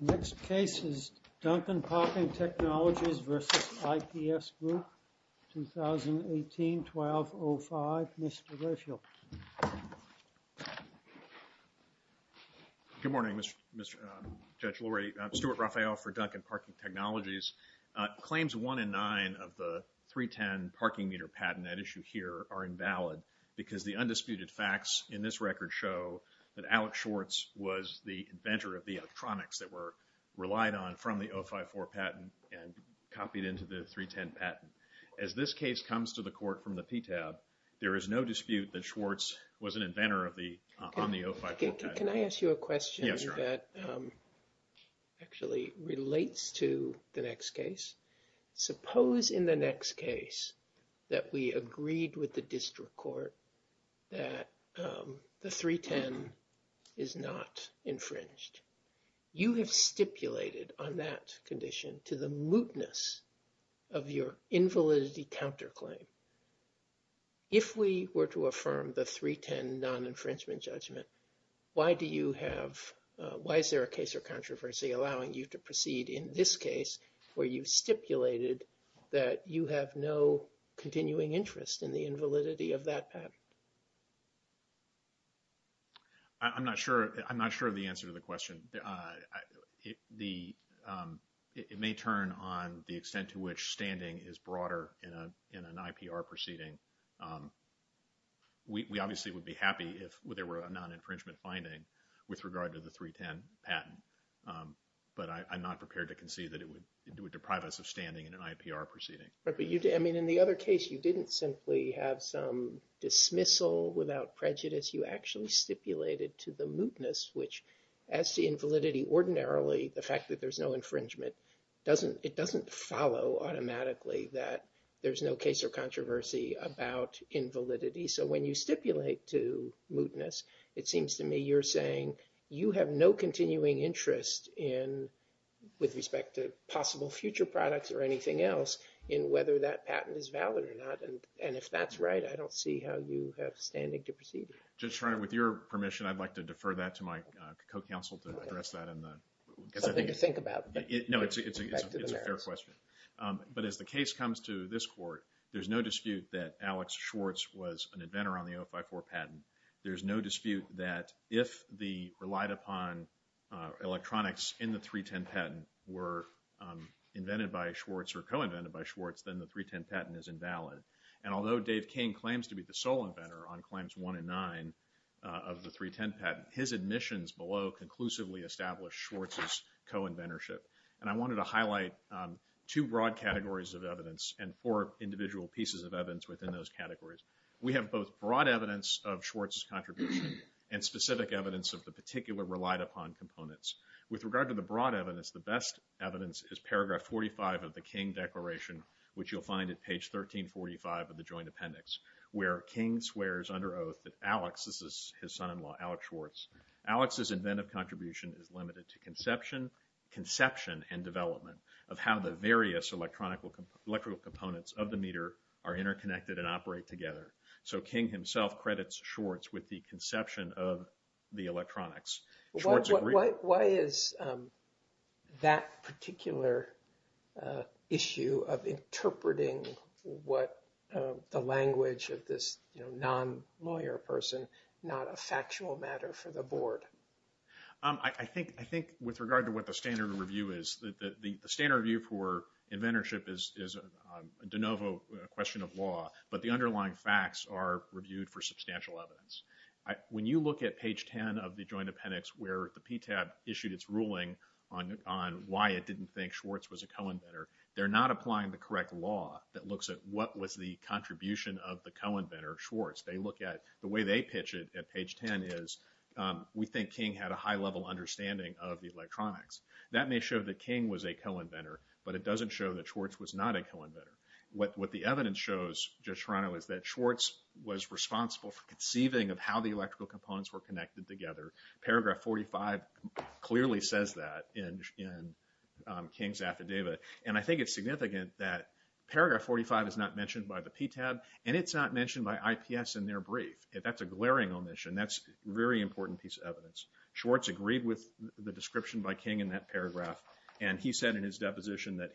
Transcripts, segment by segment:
Next case is Duncan Parking Technologies v. IPS Group, 2018-12-05. Mr. Rayfield. Good morning, Judge Lurie. Stuart Raphael for Duncan Parking Technologies. Claims 1 and 9 of the 310 parking meter patent at issue here are invalid because the undisputed facts in this record show that Alex Schwartz was the inventor of the electronics that were relied on from the 054 patent and copied into the 310 patent. As this case comes to the court from the PTAB, there is no dispute that Schwartz was an inventor on the 054 patent. Can I ask you a question that actually relates to the next case? Suppose in the next case that we agreed with the district court that the 310 is not infringed. You have stipulated on that condition to the mootness of your invalidity counterclaim. If we were to affirm the 310 non-infringement judgment, why do you have, why is there a case or controversy allowing you to proceed in this case where you've stipulated that you have no continuing interest in the invalidity of that patent? I'm not sure of the answer to the question. It may turn on the extent to which standing is broader in an IPR proceeding. We obviously would be happy if there were a non-infringement finding with regard to the 310 patent. But I'm not prepared to concede that it would deprive us of standing in an IPR proceeding. In the other case, you didn't simply have some dismissal without prejudice. You actually stipulated to the mootness, which as the invalidity ordinarily, the fact that there's no infringement, it doesn't follow automatically that there's no case or controversy about invalidity. So when you stipulate to mootness, it seems to me you're saying you have no continuing interest in, with respect to possible future products or anything else, in whether that patent is valid or not. And if that's right, I don't see how you have standing to proceed. With your permission, I'd like to defer that to my co-counsel to address that. Something to think about. No, it's a fair question. But as the case comes to this court, there's no dispute that Alex Schwartz was an inventor on the 054 patent. There's no dispute that if the relied upon electronics in the 310 patent were invented by Schwartz or co-invented by Schwartz, then the 310 patent is invalid. And although Dave King claims to be the sole inventor on Claims 1 and 9 of the 310 patent, his admissions below conclusively establish Schwartz's co-inventorship. And I wanted to highlight two broad categories of evidence and four individual pieces of evidence within those categories. We have both broad evidence of Schwartz's contribution and specific evidence of the particular relied upon components. With regard to the broad evidence, the best evidence is paragraph 45 of the King Declaration, which you'll find at page 1345 of the Joint Appendix, where King swears under oath that Alex, this is his son-in-law, Alex Schwartz, Alex's inventive contribution is limited to conception and development of how the various electrical components of the meter are interconnected and operate together. So King himself credits Schwartz with the conception of the electronics. Why is that particular issue of interpreting what the language of this non-lawyer person not a factual matter for the Board? I think with regard to what the standard review is, the standard review for inventorship is a de novo question of law, but the underlying facts are reviewed for substantial evidence. When you look at page 10 of the Joint Appendix where the PTAB issued its ruling on why it didn't think Schwartz was a co-inventor, they're not applying the correct law that looks at what was the contribution of the co-inventor, Schwartz. They look at, the way they pitch it at page 10 is, we think King had a high-level understanding of the electronics. That may show that King was a co-inventor, but it doesn't show that Schwartz was not a co-inventor. What the evidence shows, Judge Serrano, is that Schwartz was responsible for conceiving of how the electrical components were connected together. Paragraph 45 clearly says that in King's affidavit. And I think it's significant that paragraph 45 is not mentioned by the PTAB, and it's not mentioned by IPS in their brief. That's a glaring omission. That's a very important piece of evidence. Schwartz agreed with the description by King in that paragraph, and he said in his deposition that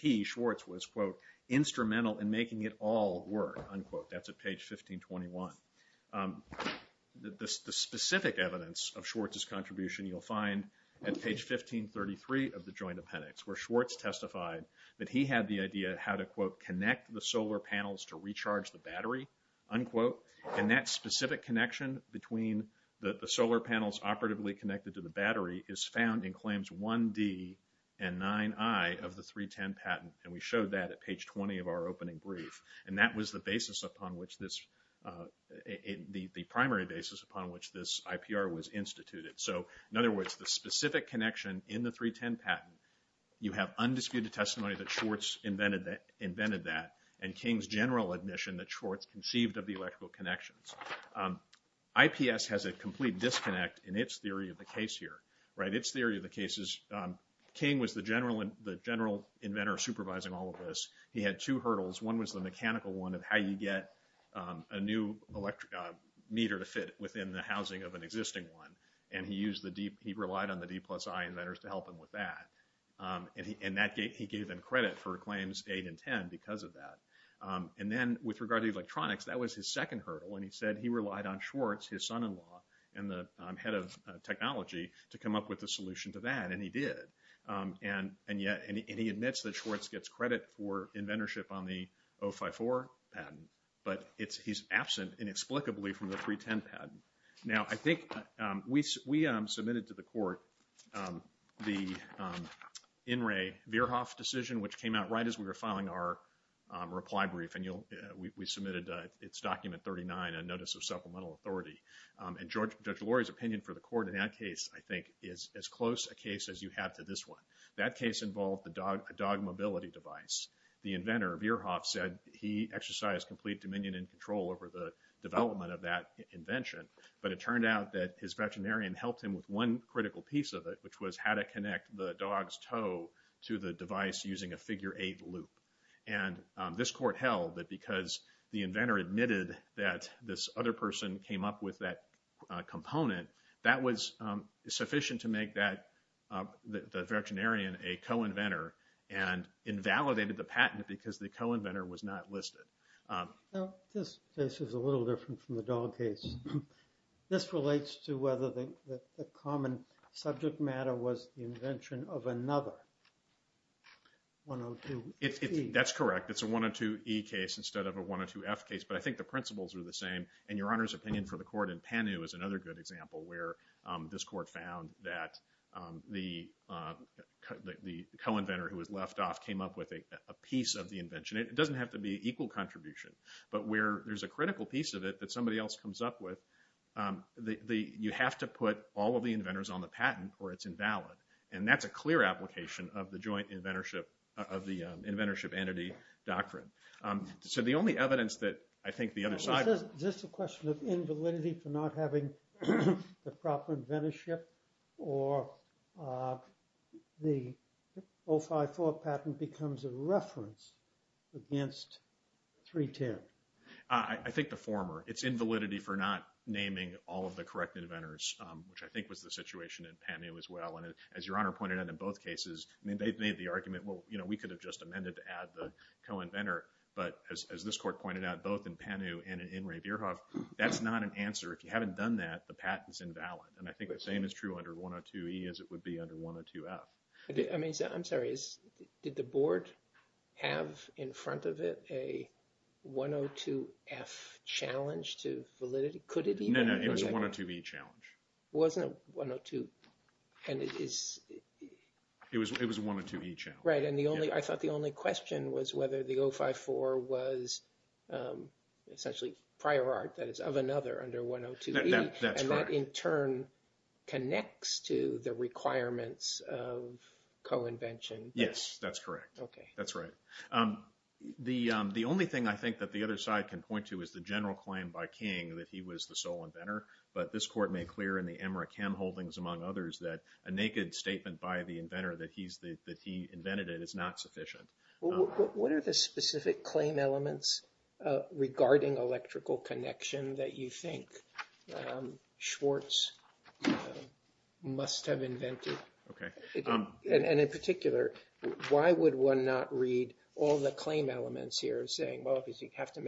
he, Schwartz, was, quote, instrumental in making it all work, unquote. That's at page 1521. The specific evidence of Schwartz's contribution you'll find at page 1533 of the Joint Appendix, where Schwartz testified that he had the idea how to, quote, connect the solar panels to recharge the battery, unquote. And that specific connection between the solar panels operatively connected to the battery is found in claims 1D and 9I of the 310 patent. And we showed that at page 20 of our opening brief. And that was the basis upon which this, the primary basis upon which this IPR was instituted. So, in other words, the specific connection in the 310 patent, you have undisputed testimony that Schwartz invented that, and King's general admission that Schwartz conceived of the electrical connections. IPS has a complete disconnect in its theory of the case here, right? Its theory of the case is King was the general inventor supervising all of this. He had two hurdles. One was the mechanical one of how you get a new meter to fit within the housing of an existing one. And he used the D, he relied on the D plus I inventors to help him with that. And that gave him credit for claims 8 and 10 because of that. And then, with regard to electronics, that was his second hurdle. And he said he relied on Schwartz, his son-in-law, and the head of technology to come up with a solution to that, and he did. And he admits that Schwartz gets credit for inventorship on the 054 patent, but he's absent inexplicably from the 310 patent. Now, I think we submitted to the court the In re. Verhoff decision, which came out right as we were filing our reply brief. And we submitted its document 39, a notice of supplemental authority. And Judge Lurie's opinion for the court in that case, I think, is as close a case as you have to this one. That case involved a dog mobility device. The inventor, Verhoff, said he exercised complete dominion and control over the development of that invention. But it turned out that his veterinarian helped him with one critical piece of it, which was how to connect the dog's toe to the device using a figure 8 loop. And this court held that because the inventor admitted that this other person came up with that component, that was sufficient to make the veterinarian a co-inventor and invalidated the patent because the co-inventor was not listed. This case is a little different from the dog case. This relates to whether the common subject matter was the invention of another 102E. That's correct. It's a 102E case instead of a 102F case. But I think the principles are the same. And Your Honor's opinion for the court in Panu is another good example where this court found that the co-inventor who was left off came up with a piece of the invention. It doesn't have to be equal contribution. But where there's a critical piece of it that somebody else comes up with, you have to put all of the inventors on the patent or it's invalid. And that's a clear application of the joint inventorship, of the inventorship entity doctrine. So the only evidence that I think the other side... Is this a question of invalidity for not having the proper inventorship or the 054 patent becomes a reference against 310? I think the former. It's invalidity for not naming all of the correct inventors, which I think was the situation in Panu as well. And as Your Honor pointed out in both cases, they've made the argument, well, you know, we could have just amended to add the co-inventor. But as this court pointed out, both in Panu and in Ravierhoff, that's not an answer. If you haven't done that, the patent's invalid. And I think the same is true under 102E as it would be under 102F. I'm sorry. Did the board have in front of it a 102F challenge to validity? Could it even? No, no. It was a 102E challenge. It wasn't a 102 and it is... It was a 102E challenge. Right. And I thought the only question was whether the 054 was essentially prior art, that is, of another under 102E. That's correct. And that in turn connects to the requirements of co-invention. Yes, that's correct. Okay. That's right. The only thing I think that the other side can point to is the general claim by King that he was the sole inventor. But this court made clear in the Emmerich-Ham holdings, among others, that a naked statement by the inventor that he invented it is not sufficient. What are the specific claim elements regarding electrical connection that you think Schwartz must have invented? Okay. And in particular, why would one not read all the claim elements here as saying, well, because you have to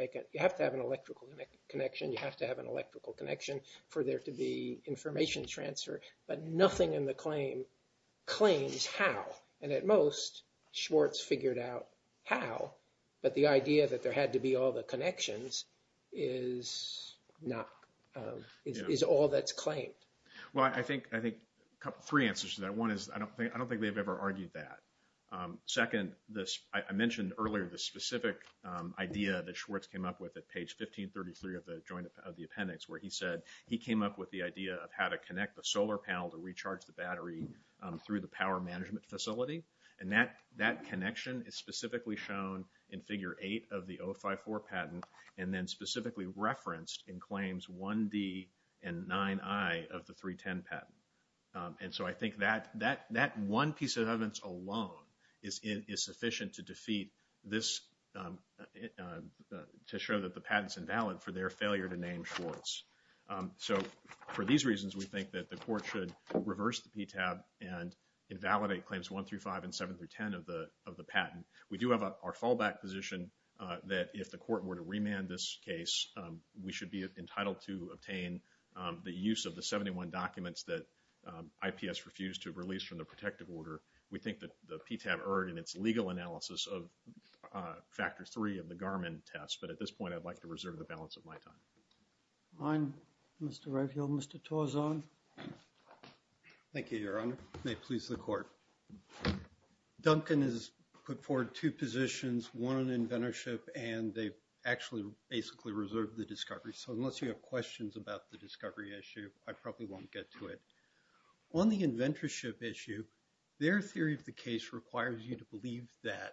have an electrical connection. You have to have an electrical connection for there to be information transfer. But nothing in the claim claims how. And at most, Schwartz figured out how. But the idea that there had to be all the connections is all that's claimed. Well, I think three answers to that. One is I don't think they've ever argued that. Second, I mentioned earlier the specific idea that Schwartz came up with at page 1533 of the appendix where he said he came up with the idea of how to connect the solar panel to recharge the battery through the power management facility. And that connection is specifically shown in figure 8 of the 054 patent and then specifically referenced in claims 1D and 9I of the 310 patent. And so I think that one piece of evidence alone is sufficient to defeat this, to show that the patent's invalid for their failure to name Schwartz. So for these reasons, we think that the court should reverse the PTAB and invalidate claims 1 through 5 and 7 through 10 of the patent. We do have our fallback position that if the court were to remand this case, we should be entitled to obtain the use of the 71 documents that IPS refused to release from the protective order. We think that the PTAB erred in its legal analysis of factor 3 of the Garmin test. But at this point, I'd like to reserve the balance of my time. All right. Mr. Redfield, Mr. Tauzon. Thank you, Your Honor. May it please the court. Duncan has put forward two positions, one on inventorship, and they've actually basically reserved the discovery. So unless you have questions about the discovery issue, I probably won't get to it. On the inventorship issue, their theory of the case requires you to believe that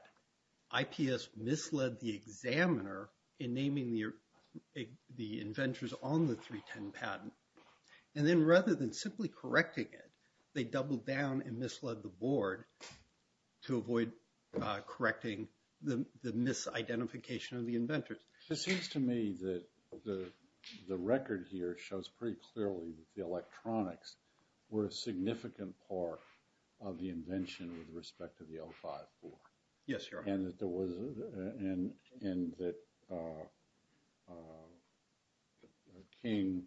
IPS misled the examiner in naming the inventors on the 310 patent. And then rather than simply correcting it, they doubled down and misled the board to avoid correcting the misidentification of the inventors. It seems to me that the record here shows pretty clearly that the electronics were a significant part of the invention with respect to the 054. Yes, Your Honor. And that King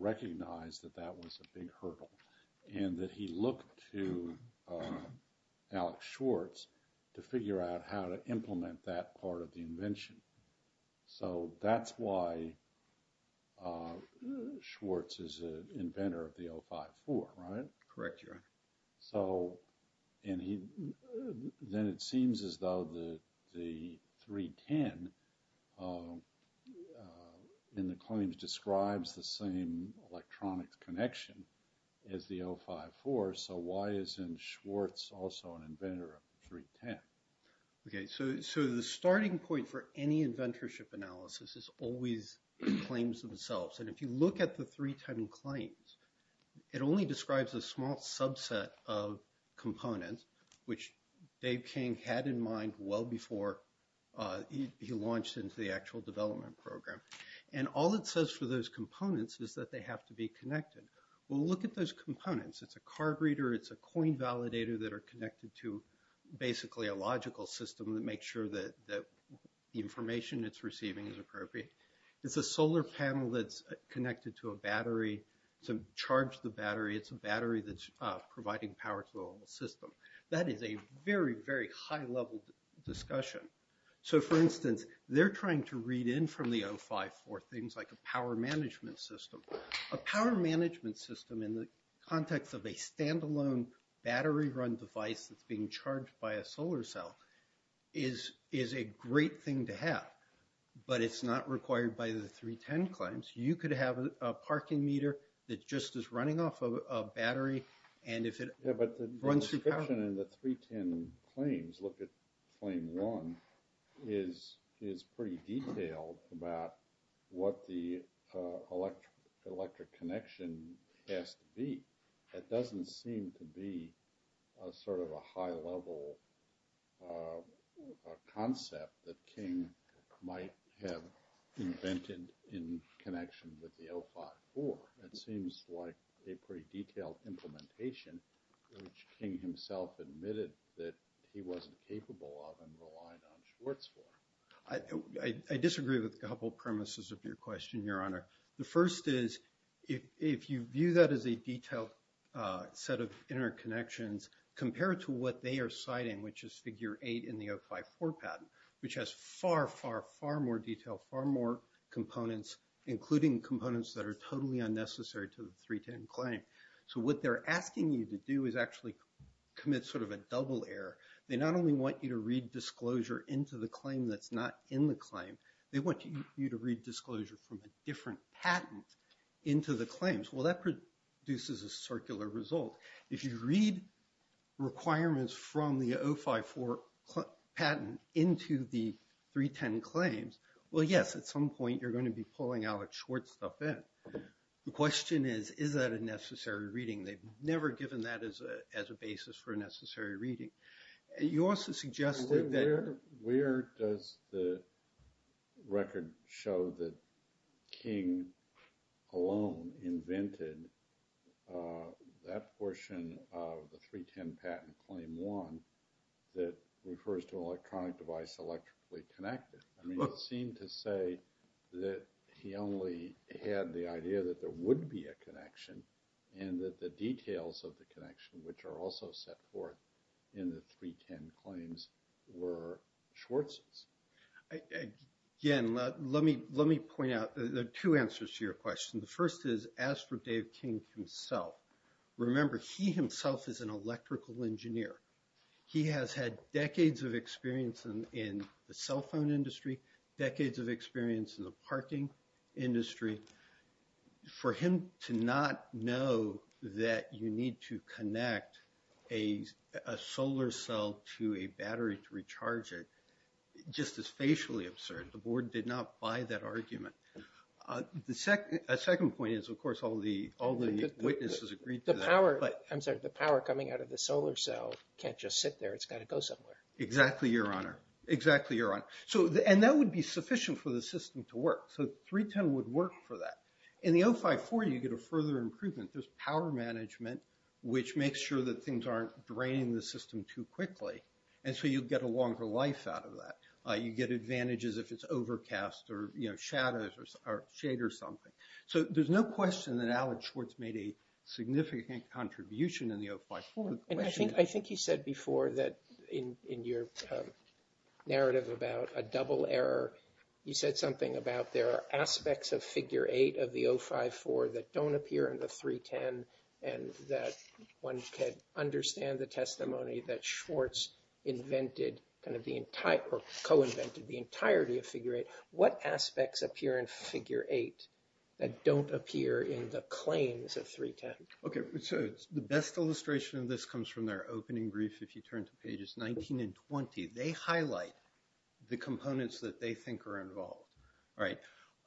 recognized that that was a big hurdle and that he looked to Alex Schwartz to figure out how to implement that part of the invention. So that's why Schwartz is an inventor of the 054, right? Correct, Your Honor. So then it seems as though the 310 in the claims describes the same electronics connection as the 054, so why isn't Schwartz also an inventor of the 310? Okay, so the starting point for any inventorship analysis is always the claims themselves. And if you look at the 310 claims, it only describes a small subset of components, which Dave King had in mind well before he launched into the actual development program. And all it says for those components is that they have to be connected. Well, look at those components. It's a card reader. It's a coin validator that are connected to basically a logical system that makes sure that the information it's receiving is appropriate. It's a solar panel that's connected to a battery to charge the battery. It's a battery that's providing power to the whole system. That is a very, very high-level discussion. So, for instance, they're trying to read in from the 054 things like a power management system. A power management system in the context of a stand-alone battery-run device that's being charged by a solar cell is a great thing to have, but it's not required by the 310 claims. You could have a parking meter that just is running off a battery and if it runs through power. The discussion in the 310 claims, look at claim one, is pretty detailed about what the electric connection has to be. It doesn't seem to be sort of a high-level concept that King might have invented in connection with the 054. It seems like a pretty detailed implementation, which King himself admitted that he wasn't capable of and relied on Schwartz for. I disagree with a couple of premises of your question, Your Honor. The first is, if you view that as a detailed set of interconnections, compared to what they are citing, which is figure eight in the 054 patent, which has far, far, far more detail, far more components, including components that are totally unnecessary to the 310 claim. So what they're asking you to do is actually commit sort of a double error. They not only want you to read disclosure into the claim that's not in the claim, they want you to read disclosure from a different patent into the claims. Well, that produces a circular result. If you read requirements from the 054 patent into the 310 claims, well, yes, at some point you're going to be pulling Alex Schwartz stuff in. The question is, is that a necessary reading? They've never given that as a basis for a necessary reading. You also suggested that – Where does the record show that King alone invented that portion of the 310 patent claim one that refers to an electronic device electrically connected? It seemed to say that he only had the idea that there would be a connection and that the details of the connection, which are also set forth in the 310 claims, were Schwartz's. Again, let me point out two answers to your question. The first is, as for Dave King himself, remember, he himself is an electrical engineer. He has had decades of experience in the cell phone industry, decades of experience in the parking industry. For him to not know that you need to connect a solar cell to a battery to recharge it, just is facially absurd. The Board did not buy that argument. A second point is, of course, all the witnesses agreed to that. I'm sorry, the power coming out of the solar cell can't just sit there. It's got to go somewhere. Exactly, Your Honor. Exactly, Your Honor. And that would be sufficient for the system to work. So 310 would work for that. In the 054, you get a further improvement. There's power management, which makes sure that things aren't draining the system too quickly, and so you get a longer life out of that. You get advantages if it's overcast or shadows or shade or something. So there's no question that Alec Schwartz made a significant contribution in the 054. I think he said before that in your narrative about a double error, he said something about there are aspects of Figure 8 of the 054 that don't appear in the 310 and that one can understand the testimony that Schwartz invented, kind of co-invented the entirety of Figure 8. What aspects appear in Figure 8 that don't appear in the claims of 310? Okay, so the best illustration of this comes from their opening brief, if you turn to pages 19 and 20. They highlight the components that they think are involved.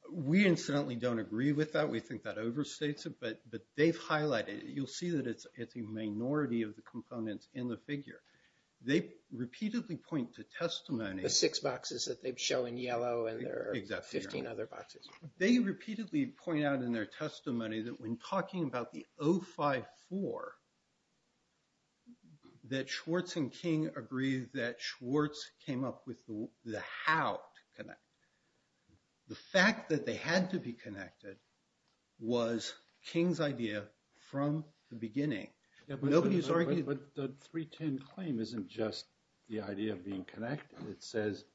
We, incidentally, don't agree with that. We think that overstates it, but they've highlighted it. You'll see that it's a minority of the components in the figure. They repeatedly point to testimony. The six boxes that they show in yellow and there are 15 other boxes. They repeatedly point out in their testimony that when talking about the 054, that Schwartz and King agreed that Schwartz came up with the how to connect. The fact that they had to be connected was King's idea from the beginning. But the 310 claim isn't just the idea of being connected. It says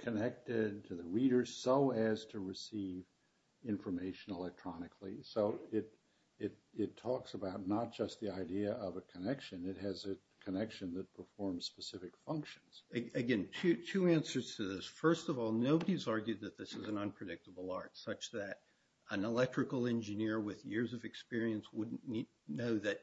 connected to the reader so as to receive information electronically. So it talks about not just the idea of a connection. It has a connection that performs specific functions. Again, two answers to this. First of all, nobody's argued that this is an unpredictable art, such that an electrical engineer with years of experience wouldn't know that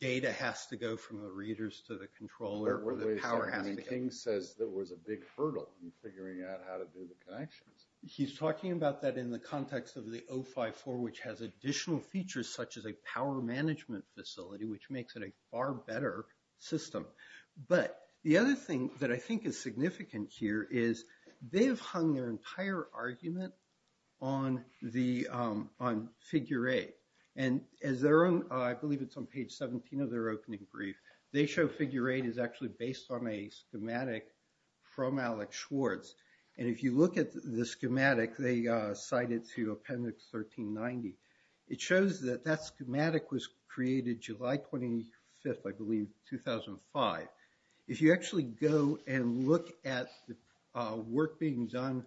data has to go from the readers to the controller or the power has to go. But wait a second. King says there was a big hurdle in figuring out how to do the connections. He's talking about that in the context of the 054, which has additional features such as a power management facility, which makes it a far better system. But the other thing that I think is significant here is they've hung their I believe it's on page 17 of their opening brief. They show figure eight is actually based on a schematic from Alex Schwartz. And if you look at the schematic, they cite it to appendix 1390. It shows that that schematic was created July 25th, I believe, 2005. If you actually go and look at the work being done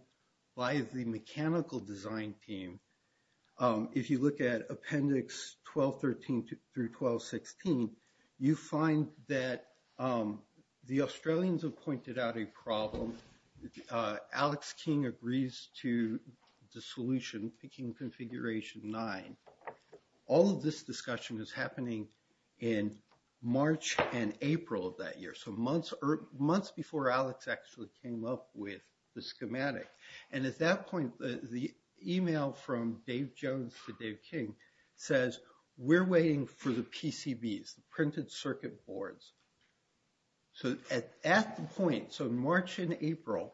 by the mechanical design team, if you look at appendix 1213 through 1216, you find that the Australians have pointed out a problem. Alex King agrees to the solution, picking configuration nine. All of this discussion is happening in March and April of that year, so months before Alex actually came up with the schematic. And at that point, the email from Dave Jones to Dave King says, we're waiting for the PCBs, the printed circuit boards. So at that point, so March and April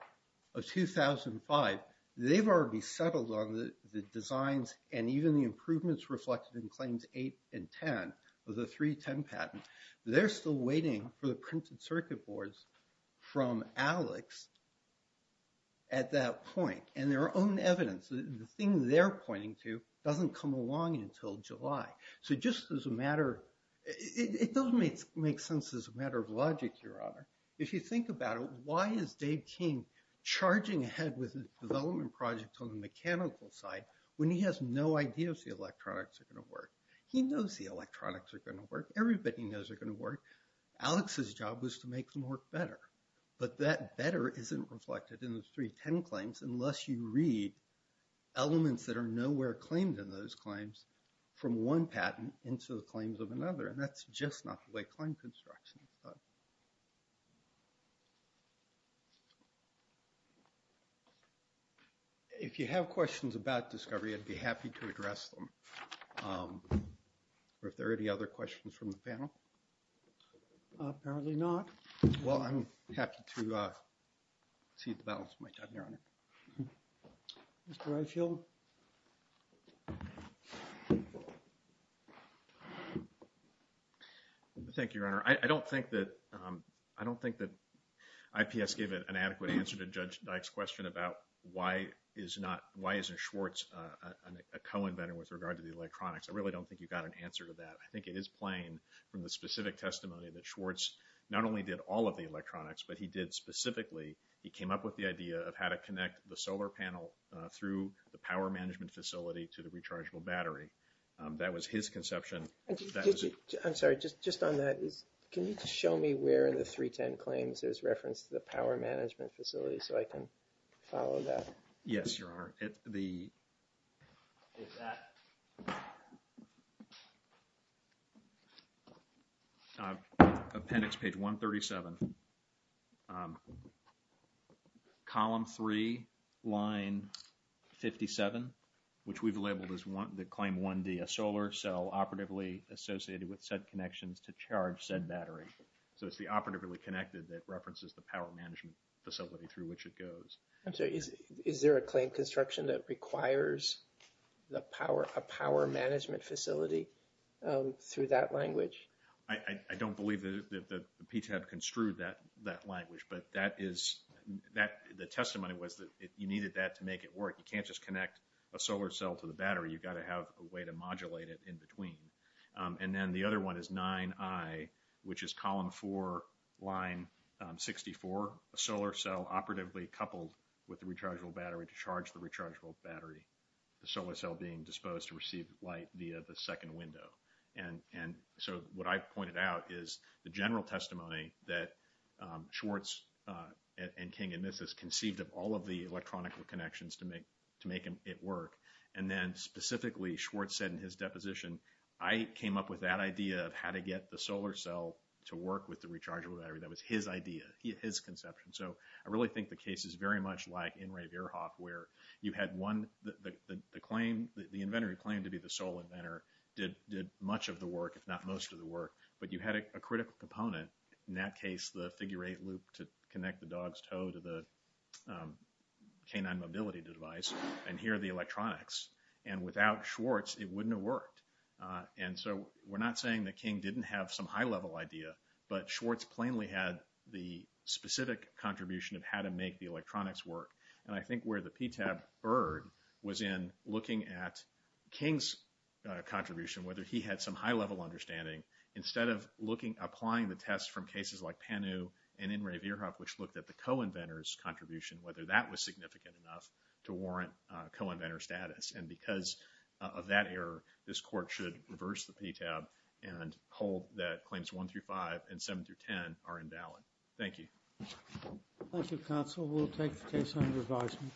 of 2005, they've already settled on the designs and even the improvements reflected in claims eight and ten of the 310 patent. They're still waiting for the printed circuit boards from Alex at that point. And their own evidence, the thing they're pointing to, doesn't come along until July. So just as a matter, it doesn't make sense as a matter of logic, Your Honor. If you think about it, why is Dave King charging ahead with his development project on the mechanical side when he has no idea if the electronics are going to work? He knows the electronics are going to work. Everybody knows they're going to work. Alex's job was to make them work better. But that better isn't reflected in the 310 claims unless you read elements that are nowhere claimed in those claims from one patent into the claims of another. And that's just not the way claim construction is done. If you have questions about discovery, I'd be happy to address them. Are there any other questions from the panel? Apparently not. Well, I'm happy to cede the balance of my time, Your Honor. Mr. Reichelt. Thank you, Your Honor. I don't think that IPS gave an adequate answer to Judge Dyke's question about why isn't Schwartz a co-inventor with regard to the electronics. I really don't think you got an answer to that. I think it is plain from the specific testimony that Schwartz not only did all of the electronics, but he did specifically, he came up with the idea of how to connect the solar panel through the power management facility to the rechargeable battery. That was his conception. I'm sorry, just on that, can you just show me where in the 310 claims there's reference to the power management facility so I can follow that? Yes, Your Honor. Appendix page 137, column 3, line 57, which we've labeled as claim 1D, a solar cell operatively associated with said connections to charge said battery. So it's the operatively connected that references the power management facility through which it goes. I'm sorry, is there a claim construction that requires a power management facility through that language? I don't believe that the PTAB construed that language, but the testimony was that you needed that to make it work. You can't just connect a solar cell to the battery. You've got to have a way to modulate it in between. And then the other one is 9I, which is column 4, line 64, a solar cell operatively coupled with a rechargeable battery to charge the rechargeable battery, the solar cell being disposed to receive light via the second window. And so what I've pointed out is the general testimony that Schwartz and King and Mises conceived of all of the electronic connections to make it work. And then specifically, Schwartz said in his deposition, I came up with that idea of how to get the solar cell to work with the rechargeable battery. That was his idea, his conception. So I really think the case is very much like in Ray Verhoff where you had the inventor who claimed to be the sole inventor did much of the work, if not most of the work, but you had a critical component. In that case, the figure-eight loop to connect the dog's toe to the canine mobility device, and here are the electronics. And without Schwartz, it wouldn't have worked. And so we're not saying that King didn't have some high-level idea, but Schwartz plainly had the specific contribution of how to make the electronics work. And I think where the PTAB erred was in looking at King's contribution, whether he had some high-level understanding, instead of applying the test from cases like Panu and in Ray Verhoff, which looked at the co-inventor's contribution, whether that was significant enough to warrant co-inventor status. And because of that error, this Court should reverse the PTAB and hold that claims 1 through 5 and 7 through 10 are invalid. Thank you. Thank you, counsel. We'll take the case under advisement.